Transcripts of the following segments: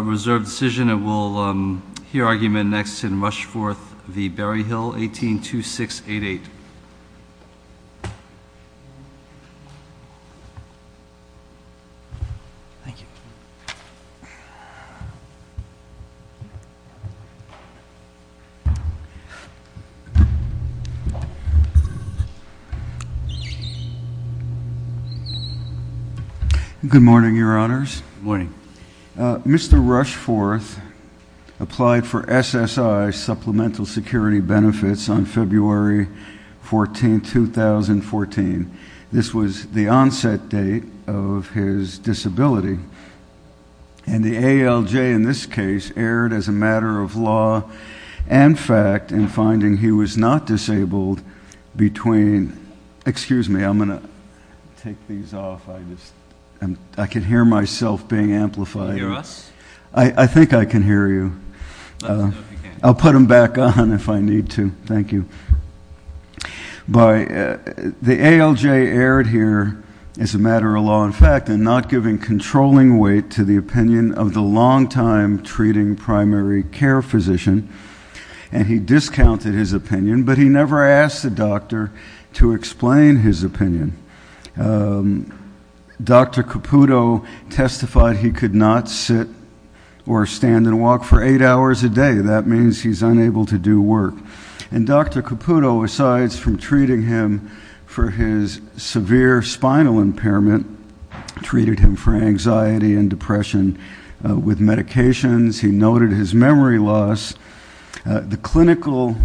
182688 Good morning, Your Honors. Mr. Rushforth applied for SSI Supplemental Security Benefits on February 14, 2014. This was the onset date of his disability, and the ALJ in this case erred as a matter of law and fact in finding he was not disabled between, excuse me, I'm going to take these off. I can hear myself being amplified. I think I can hear you. I'll put them back on if I need to. Thank you. The ALJ erred here as a matter of law and fact in not giving controlling weight to the opinion of the long-time treating primary care physician, and he discounted his opinion, but he never asked the doctor to explain his opinion. Dr. Caputo testified he could not sit or stand and walk for eight hours a day. That means he's unable to do work. And Dr. Caputo, asides from treating him for his severe spinal impairment, treated him for anxiety and depression with medications, he noted his memory loss. The clinical,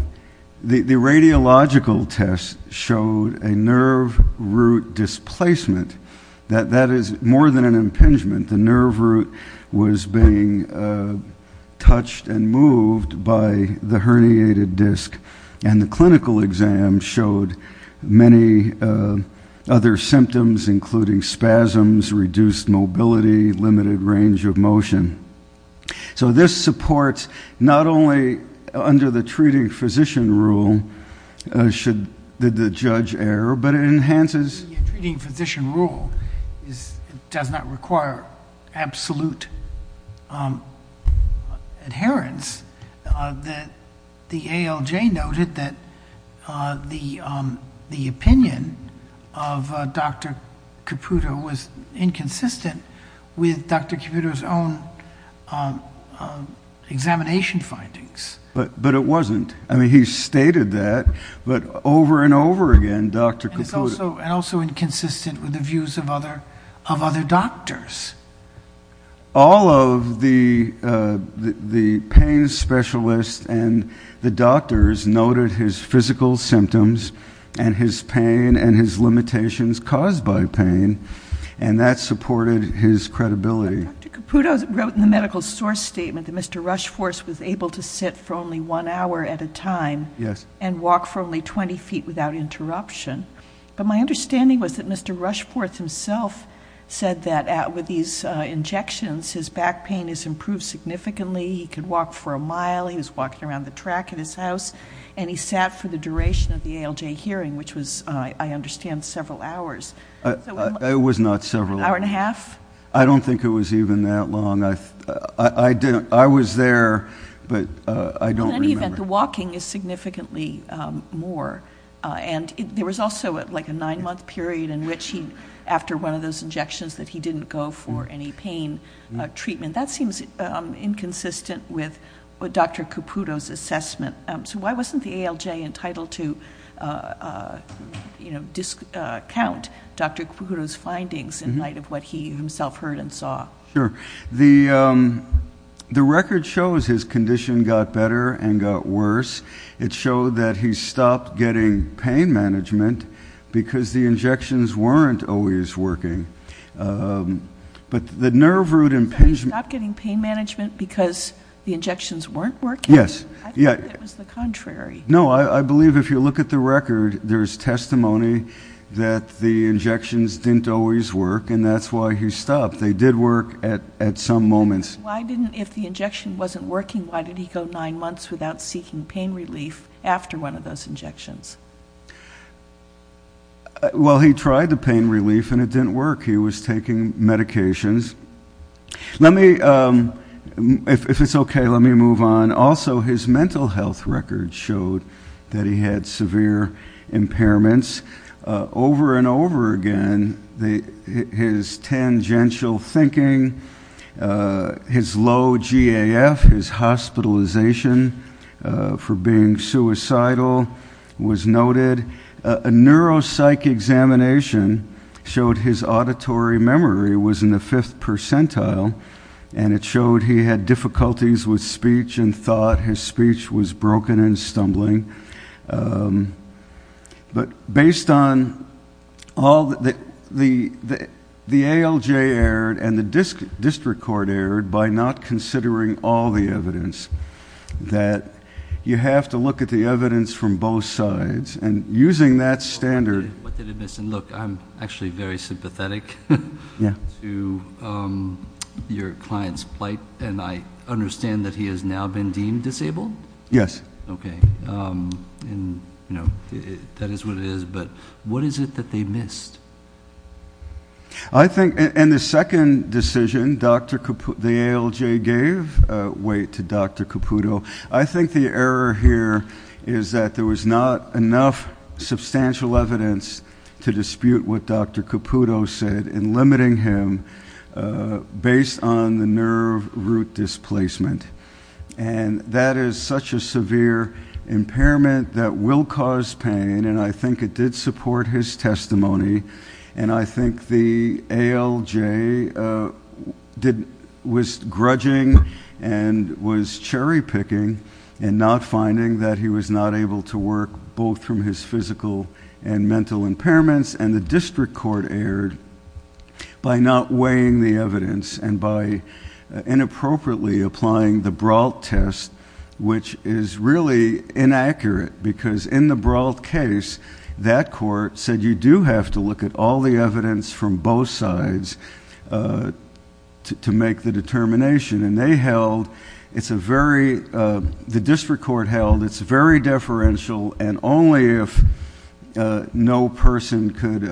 the radiological test showed a nerve root displacement. That is more than an impingement. The nerve root was being touched and moved by the herniated disc, and the clinical exam showed many other symptoms, including spasms, reduced mobility, limited range of motion. So this supports not only under the treating physician rule, should the judge err, but it enhances. Treating physician rule does not require absolute adherence. The ALJ noted that the opinion of Dr. Caputo was inconsistent with Dr. Caputo's own examination findings. But it wasn't. I mean, he stated that, but over and over again, Dr. Caputo... And also inconsistent with the views of other doctors. All of the pain specialists and the doctors noted his physical symptoms and his pain and his limitations caused by pain, and that supported his credibility. Dr. Caputo wrote in the medical source statement that Mr. Rushforth was able to sit for only one hour at a time and walk for only 20 feet without interruption. But my understanding was that Mr. Rushforth himself said that with these injections, his back pain has improved significantly, he could walk for a mile, he was walking around the track at his house, and he sat for the duration of the ALJ hearing, which was, I understand, several hours. It was not several hours. Hour and a half? I don't think it was even that long. I was there, but I don't remember. But in any event, the walking is significantly more. And there was also a nine-month period in which he, after one of those injections, that he didn't go for any pain treatment. That seems inconsistent with Dr. Caputo's assessment. So why wasn't the ALJ entitled to discount Dr. Caputo's findings in light of what he himself heard and saw? Sure. The record shows his condition got better and got worse. It showed that he stopped getting pain management because the injections weren't always working. But the nerve root impingement You're saying he stopped getting pain management because the injections weren't working? Yes. I thought it was the contrary. No, I believe if you look at the record, there's testimony that the injections didn't always work, and that's why he stopped. They did work at some moments. Why didn't, if the injection wasn't working, why did he go nine months without seeking pain relief after one of those injections? Well, he tried the pain relief and it didn't work. He was taking medications. Let me, if it's okay, let me move on. Also, his mental health record showed that he had severe impairments. Over and over again, his tangential thinking, his low GAF, his hospitalization for being suicidal was noted. A neuropsych examination showed his auditory memory was in the fifth percentile, and it showed he had difficulties with speech and thought his speech was broken and stumbling. But based on all the, the ALJ erred and the district court erred by not considering all the evidence, that you have to look at the evidence from both sides. And using that standard What did it miss? And look, I'm actually very sympathetic to your client's plight, and I understand that he has now been deemed disabled? Yes. Okay. And, you know, that is what it is, but what is it that they missed? I think, and the second decision, Dr. Caputo, the ALJ gave weight to Dr. Caputo. I think the error here is that there was not enough substantial evidence to dispute what Dr. Caputo said in limiting him based on the nerve root displacement. And that is such a severe impairment that will cause pain, and I think it did support his testimony. And I think the ALJ did, was grudging and was cherry picking in not finding that he was not able to work both from his by not weighing the evidence and by inappropriately applying the Brault test, which is really inaccurate because in the Brault case, that court said you do have to look at all the evidence from both sides to make the determination. And they held, it's a very, the district court held, it's very deferential, and only if no person could,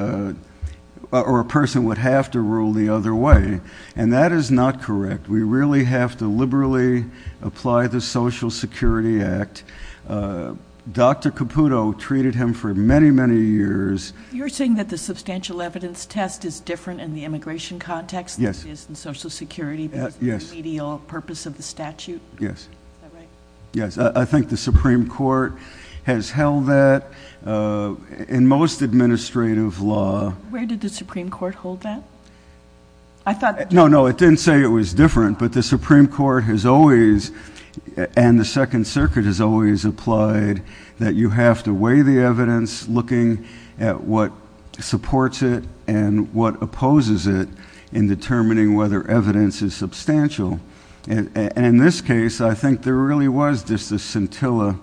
or a person would have to rule the other way. And that is not correct. We really have to liberally apply the Social Security Act. Dr. Caputo treated him for many, many years. You're saying that the substantial evidence test is different in the immigration context than it is in Social Security because of the remedial purpose of the statute? Yes. Yes, I think the Supreme Court has held that. In most administrative law... Where did the Supreme Court hold that? I thought... No, no, it didn't say it was different, but the Supreme Court has always, and the Second Circuit has always applied that you have to weigh the evidence, looking at what supports it and what opposes it in determining whether evidence is substantial. And in this case, I think there really was just a scintilla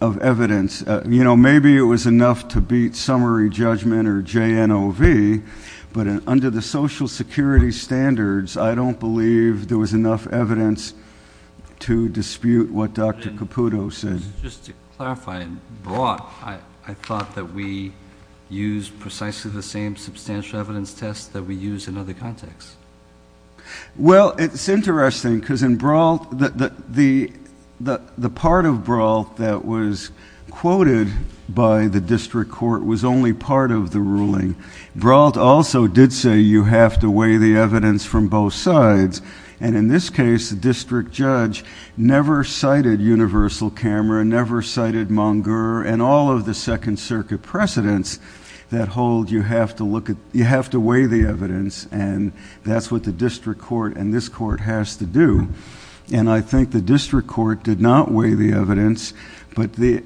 of evidence. You know, maybe it was enough to beat summary judgment or JNOV, but under the Social Security standards, I don't believe there was enough evidence to dispute what Dr. Caputo said. Just to clarify, in Brault, I thought that we used precisely the same substantial evidence test that we use in other contexts. Well, it's interesting because in Brault, the part of Brault that was quoted by the district court was only part of the ruling. Brault also did say you have to weigh the evidence from both sides, and in this case, the district judge never cited Universal Camera, never cited Monger, and all of the Second Circuit precedents that hold you have to weigh the evidence, and that's what the district court and this court has to do. And I think the district court did not weigh the evidence, but the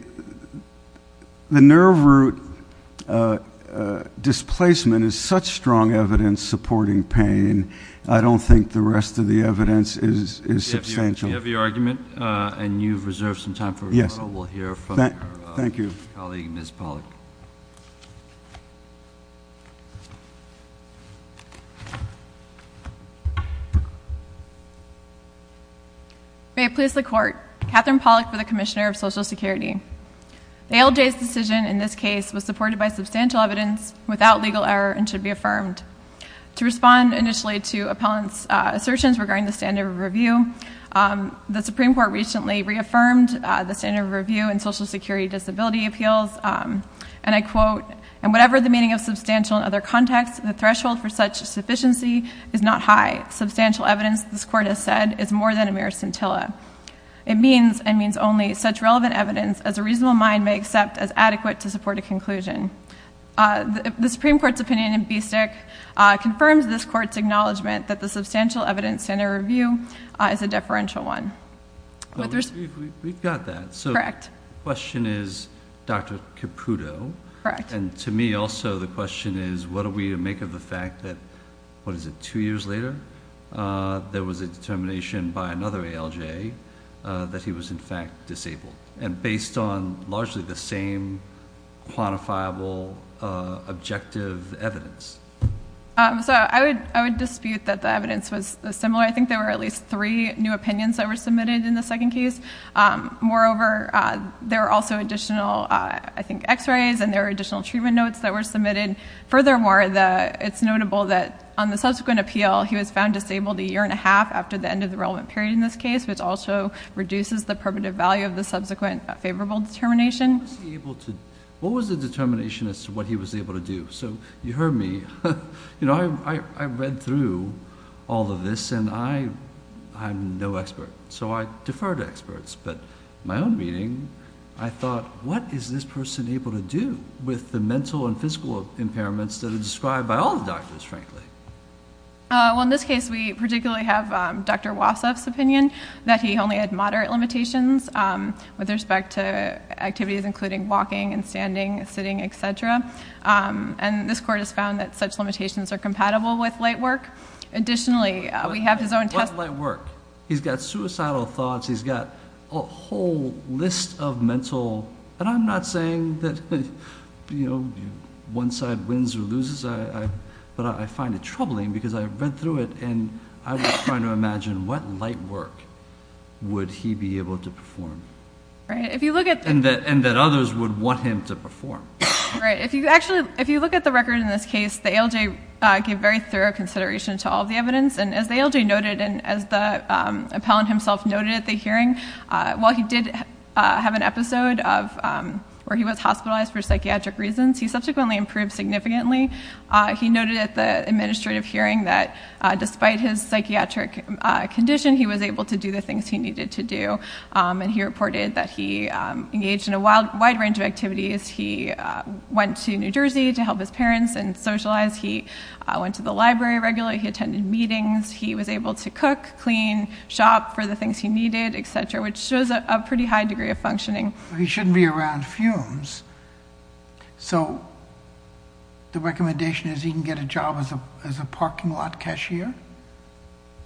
nerve root displacement is such strong evidence supporting pain, I don't think the rest of the evidence is substantial. We have your argument, and you've reserved some time for rebuttal. We'll hear from your colleague, Ms. Pollack. May it please the Court, Catherine Pollack, for the Commissioner of Social Security. The ALJ's decision in this case was supported by substantial evidence without legal error and should be affirmed. To respond initially to appellant's assertions regarding the standard of review, the Supreme Court recently reaffirmed the standard of review in Social Security disability appeals, and I quote, and whatever the meaning of substantial in other contexts, the threshold for such sufficiency is not high. Substantial evidence, this Court has said, is more than a mere scintilla. It means and means only such relevant evidence as a reasonable mind may accept as adequate to acknowledgment that the substantial evidence standard of review is a deferential one. We've got that. So the question is, Dr. Caputo, and to me also the question is, what do we make of the fact that, what is it, two years later, there was a determination by another ALJ that he was in fact disabled, and based on largely the same quantifiable objective evidence? So I would dispute that the evidence was similar. I think there were at least three new opinions that were submitted in the second case. Moreover, there were also additional, I think, x-rays and there were additional treatment notes that were submitted. Furthermore, it's notable that on the subsequent appeal, he was found disabled a year and a half after the end of the relevant period in this case, which also reduces the primitive value of the subsequent favorable determination. What was the determination as to what he was able to do? So you heard me. You know, I read through all of this, and I'm no expert, so I defer to experts. But in my own reading, I thought, what is this person able to do with the mental and physical impairments that are described by all the doctors, frankly? Well, in this case, we particularly have Dr. Wasseff's opinion that he only had moderate limitations with respect to activities including walking and standing, sitting, etc. And this court has found that such limitations are compatible with light work. Additionally, we have his own testimony. What light work? He's got suicidal thoughts. He's got a whole list of mental, and I'm not saying that, you know, one side wins or loses, but I find it troubling because I read through it, and I was trying to imagine what light work would he be able to perform, and that others would want him to perform. Right. If you look at the record in this case, the ALJ gave very thorough consideration to all of the evidence, and as the ALJ noted, and as the appellant himself noted at the hearing, while he did have an episode where he was hospitalized for psychiatric reasons, he subsequently improved significantly. He noted at the administrative hearing that despite his psychiatric condition, he was able to do the things he needed to do, and he reported that he engaged in a wide range of activities. He went to New Jersey to help his parents and socialize. He went to the library regularly. He attended meetings. He was able to cook, clean, shop for the things he needed, etc., which shows a pretty high degree of functioning. He shouldn't be around fumes, so the recommendation is he can get a job as a parking lot cashier.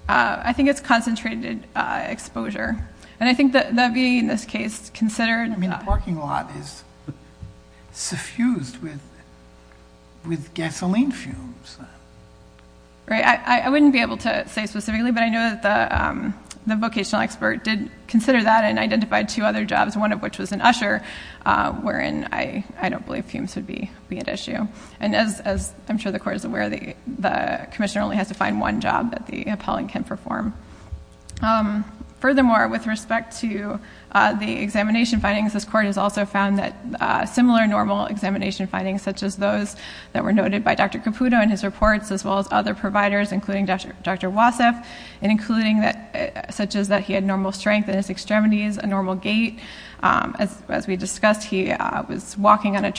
I think it's concentrated exposure, and I think that being in this case considered... I mean, a parking lot is suffused with gasoline fumes. Right. I wouldn't be able to say specifically, but I know that the vocational expert did consider that and identified two other jobs, one of which was in Usher, wherein I don't believe fumes would be an issue. As I'm sure the Court is aware, the commissioner only has to find one job that the appellant can perform. Furthermore, with respect to the examination findings, this Court has also found that similar normal examination findings, such as those that were noted by Dr. Caputo in his reports, as well as other providers, including Dr. Wassef, and including such as that he had normal strength in his extremities, a normal gait. As we discussed, he was walking on a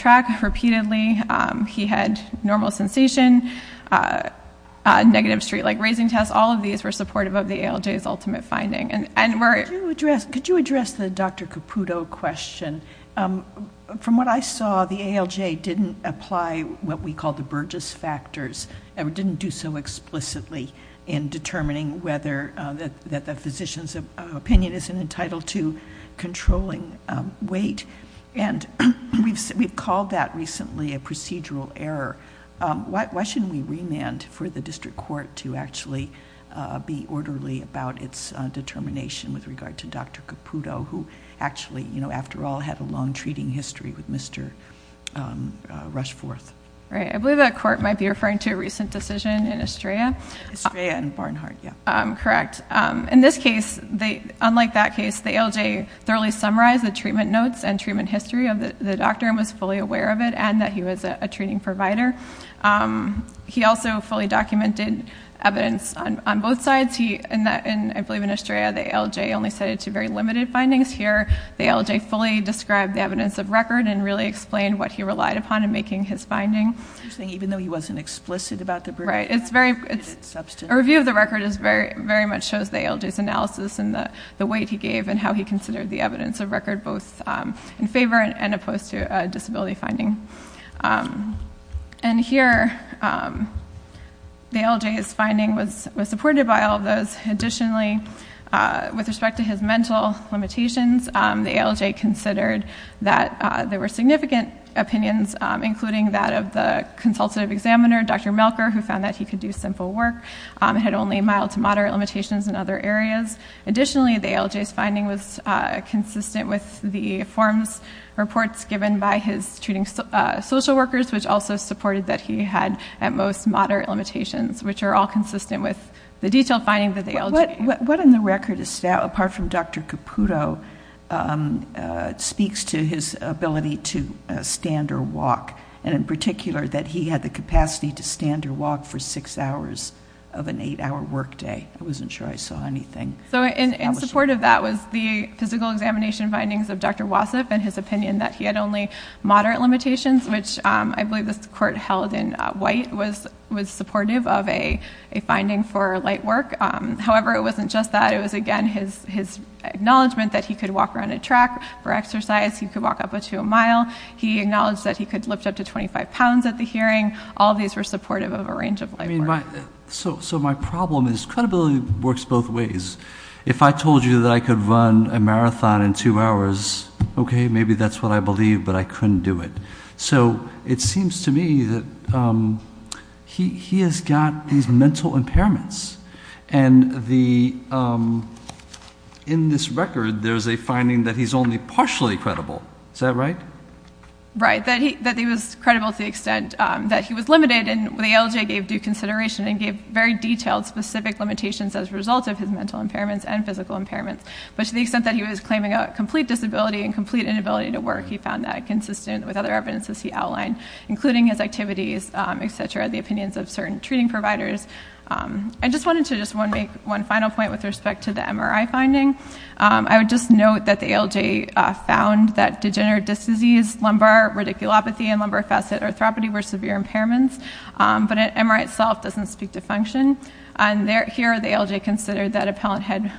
street like Raising Test. All of these were supportive of the ALJ's ultimate finding. Could you address the Dr. Caputo question? From what I saw, the ALJ didn't apply what we call the Burgess factors, or didn't do so explicitly in determining whether the physician's opinion is entitled to controlling weight, and we've called that recently a procedural error. Why shouldn't we remand for the district court to actually be orderly about its determination with regard to Dr. Caputo, who actually, after all, had a long treating history with Mr. Rushforth? I believe that court might be referring to a recent decision in Estrella. Estrella and Barnhart, yes. Correct. In this case, unlike that case, the ALJ thoroughly summarized the treatment notes and treatment history of the doctor, and was fully aware of it, and that he was a treating provider. He also fully documented evidence on both sides. I believe in Estrella, the ALJ only cited two very limited findings. Here, the ALJ fully described the evidence of record and really explained what he relied upon in making his finding. You're saying even though he wasn't explicit about the Burgess? Right. A review of the record very much shows the ALJ's analysis and the weight he gave and how he considered the evidence of record both in favor and opposed to a disability finding. And here, the ALJ's finding was supported by all of those. Additionally, with respect to his mental limitations, the ALJ considered that there were significant opinions, including that of the consultative examiner, Dr. Melker, who found that he could do simple work, had only mild to moderate limitations in other areas. Additionally, the ALJ's finding was consistent with the forms reports given by his treating social workers, which also supported that he had, at most, moderate limitations, which are all consistent with the detailed finding that the ALJ gave. What in the record, apart from Dr. Caputo, speaks to his ability to stand or walk, and in particular, that he had the capacity to stand or walk for six hours of an eight-hour work day? I wasn't sure I saw anything. So in support of that was the physical examination findings of Dr. Wasif and his opinion that he had only moderate limitations, which I believe this court held in white was supportive of a finding for light work. However, it wasn't just that. It was, again, his acknowledgment that he could walk around a track for exercise. He could walk up to a mile. He acknowledged that he could lift up to 25 pounds at the hearing. All of these were supportive of a range of light work. So my problem is credibility works both ways. If I told you that I could run a marathon in two hours, okay, maybe that's what I believe, but I couldn't do it. So it seems to me that he has got these mental impairments. And in this record, there's a finding that he's only partially credible. Is that right? Right. That he was credible to the extent that he was limited and the ALJ gave due consideration and gave very detailed specific limitations as a result of his mental impairments and physical impairments. But to the extent that he was claiming a complete disability and complete inability to work, he found that consistent with other evidences he outlined, including his activities, et cetera, the opinions of certain treating providers. I just wanted to just make one final point with respect to the MRI finding. I would just note that the ALJ found that degenerative disc disease, lumbar radiculopathy, and lumbar facet arthropathy were severe impairments, but an MRI itself doesn't speak to function. And here, the ALJ considered that a patient had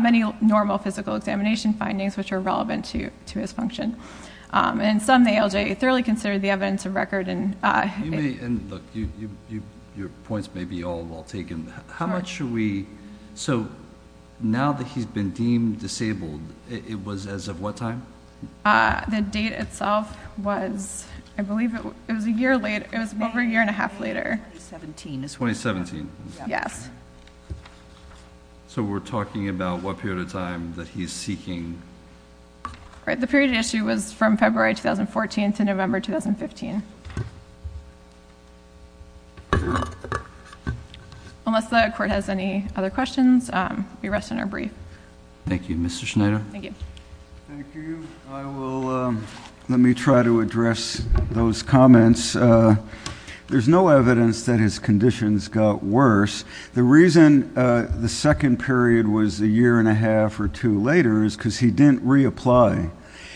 many normal physical examination findings which were relevant to his function. And in sum, the ALJ thoroughly considered the evidence of record. You may, and look, your points may be all well taken. How much should we, so now that he's been deemed disabled, it was as of what time? The date itself was, I believe it was a year late, it was over a year and a half later. 2017. Yes. So we're talking about what period of time that he's seeking? The period of issue was from February 2014 to November 2015. Unless the court has any other questions, we rest in our brief. Thank you. Mr. Schneider? Thank you. Thank you. I will, let me try to address those comments. There's no evidence that his conditions got worse. The reason the second period was a year and a half or two later is because he didn't reapply.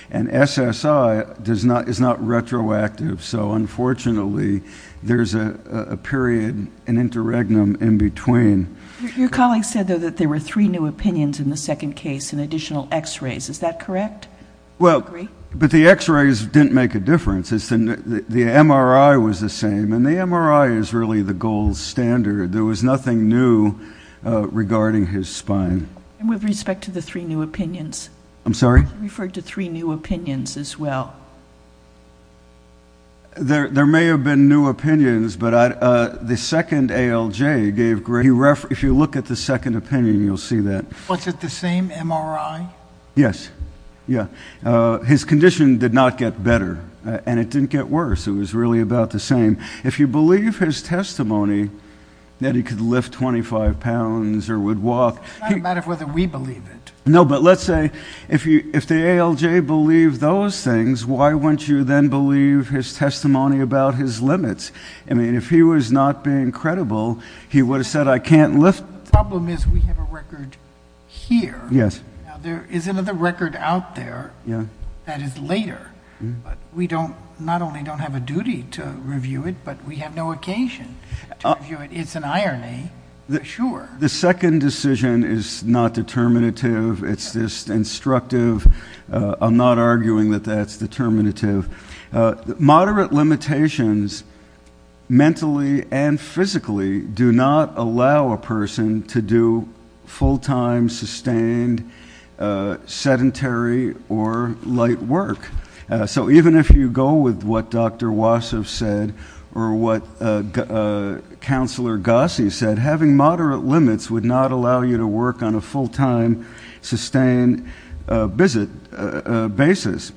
And SSI is not retroactive, so unfortunately there's a period, an interregnum in between. Your colleague said, though, that there were three new opinions in the second case in additional x-rays. Is that correct? Well, but the x-rays didn't make a difference. The MRI was the same, and the MRI is really the gold standard. There was nothing new regarding his spine. With respect to the three new opinions? I'm sorry? You referred to three new opinions as well. There may have been new opinions, but the second ALJ gave great reference. If you look at the second opinion, you'll see that. Was it the same MRI? Yes. Yeah. His condition did not get better, and it didn't get worse. It was really about the same. If you believe his testimony that he could lift 25 pounds or would walk... It's not a matter of whether we believe it. No, but let's say if the ALJ believed those things, why wouldn't you then believe his testimony about his limits? I mean, if he was not being credible, he would have said, I can't lift... The problem is we have a record here. Yes. Now, there is another record out there that is later, but we not only don't have a duty to review it, but we have no occasion to review it. It's an irony, for sure. The second decision is not determinative. It's just instructive. I'm not arguing that that's determinative. Moderate limitations, mentally and physically, do not allow a person to do full-time, sustained, sedentary, or light work. Even if you go with what Dr. Wassef said or what Counselor Gossie said, having moderate limits would not allow you to work on a full-time, sustained visit basis.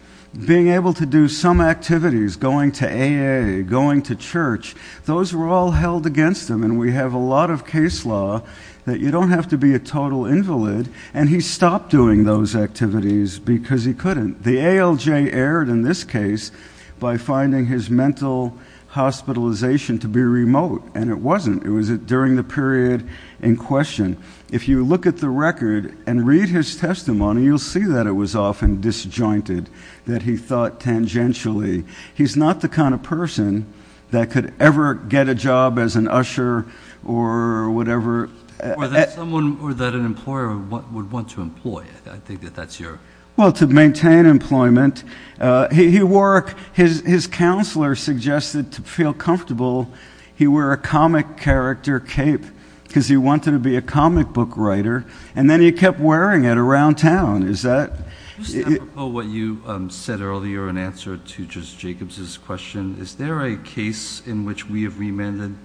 Being able to do some activities, going to AA, going to church, those were all held against him, and we have a lot of case law that you don't have to be a total invalid, and he stopped doing those activities because he couldn't. The ALJ erred in this case by finding his mental hospitalization to be remote, and it wasn't. It was during the period in question. If you look at the record and read his testimony, you'll see that it was often disjointed, that he thought tangentially. He's not the kind of person that could ever get a job as an usher or whatever... Or that someone, or that an employer would want to employ. I think that that's your... Well, to maintain employment. He wore, his counselor suggested to feel comfortable he wear a comic character cape, because he wanted to be a comic book writer, and then he kept wearing it around town. Is that... Mr. Apropos, what you said earlier in answer to Justice Jacobs' question, is there a case in which we have remanded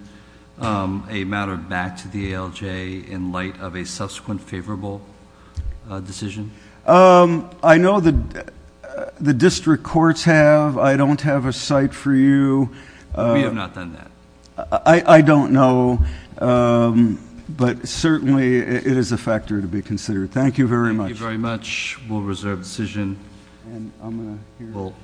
a matter back to the ALJ in light of a subsequent favorable decision? I know the district courts have. I don't have a site for you. We have not done that. I don't know, but certainly it is a factor to be considered. Thank you very much. Thank you very much. We'll reserve the decision.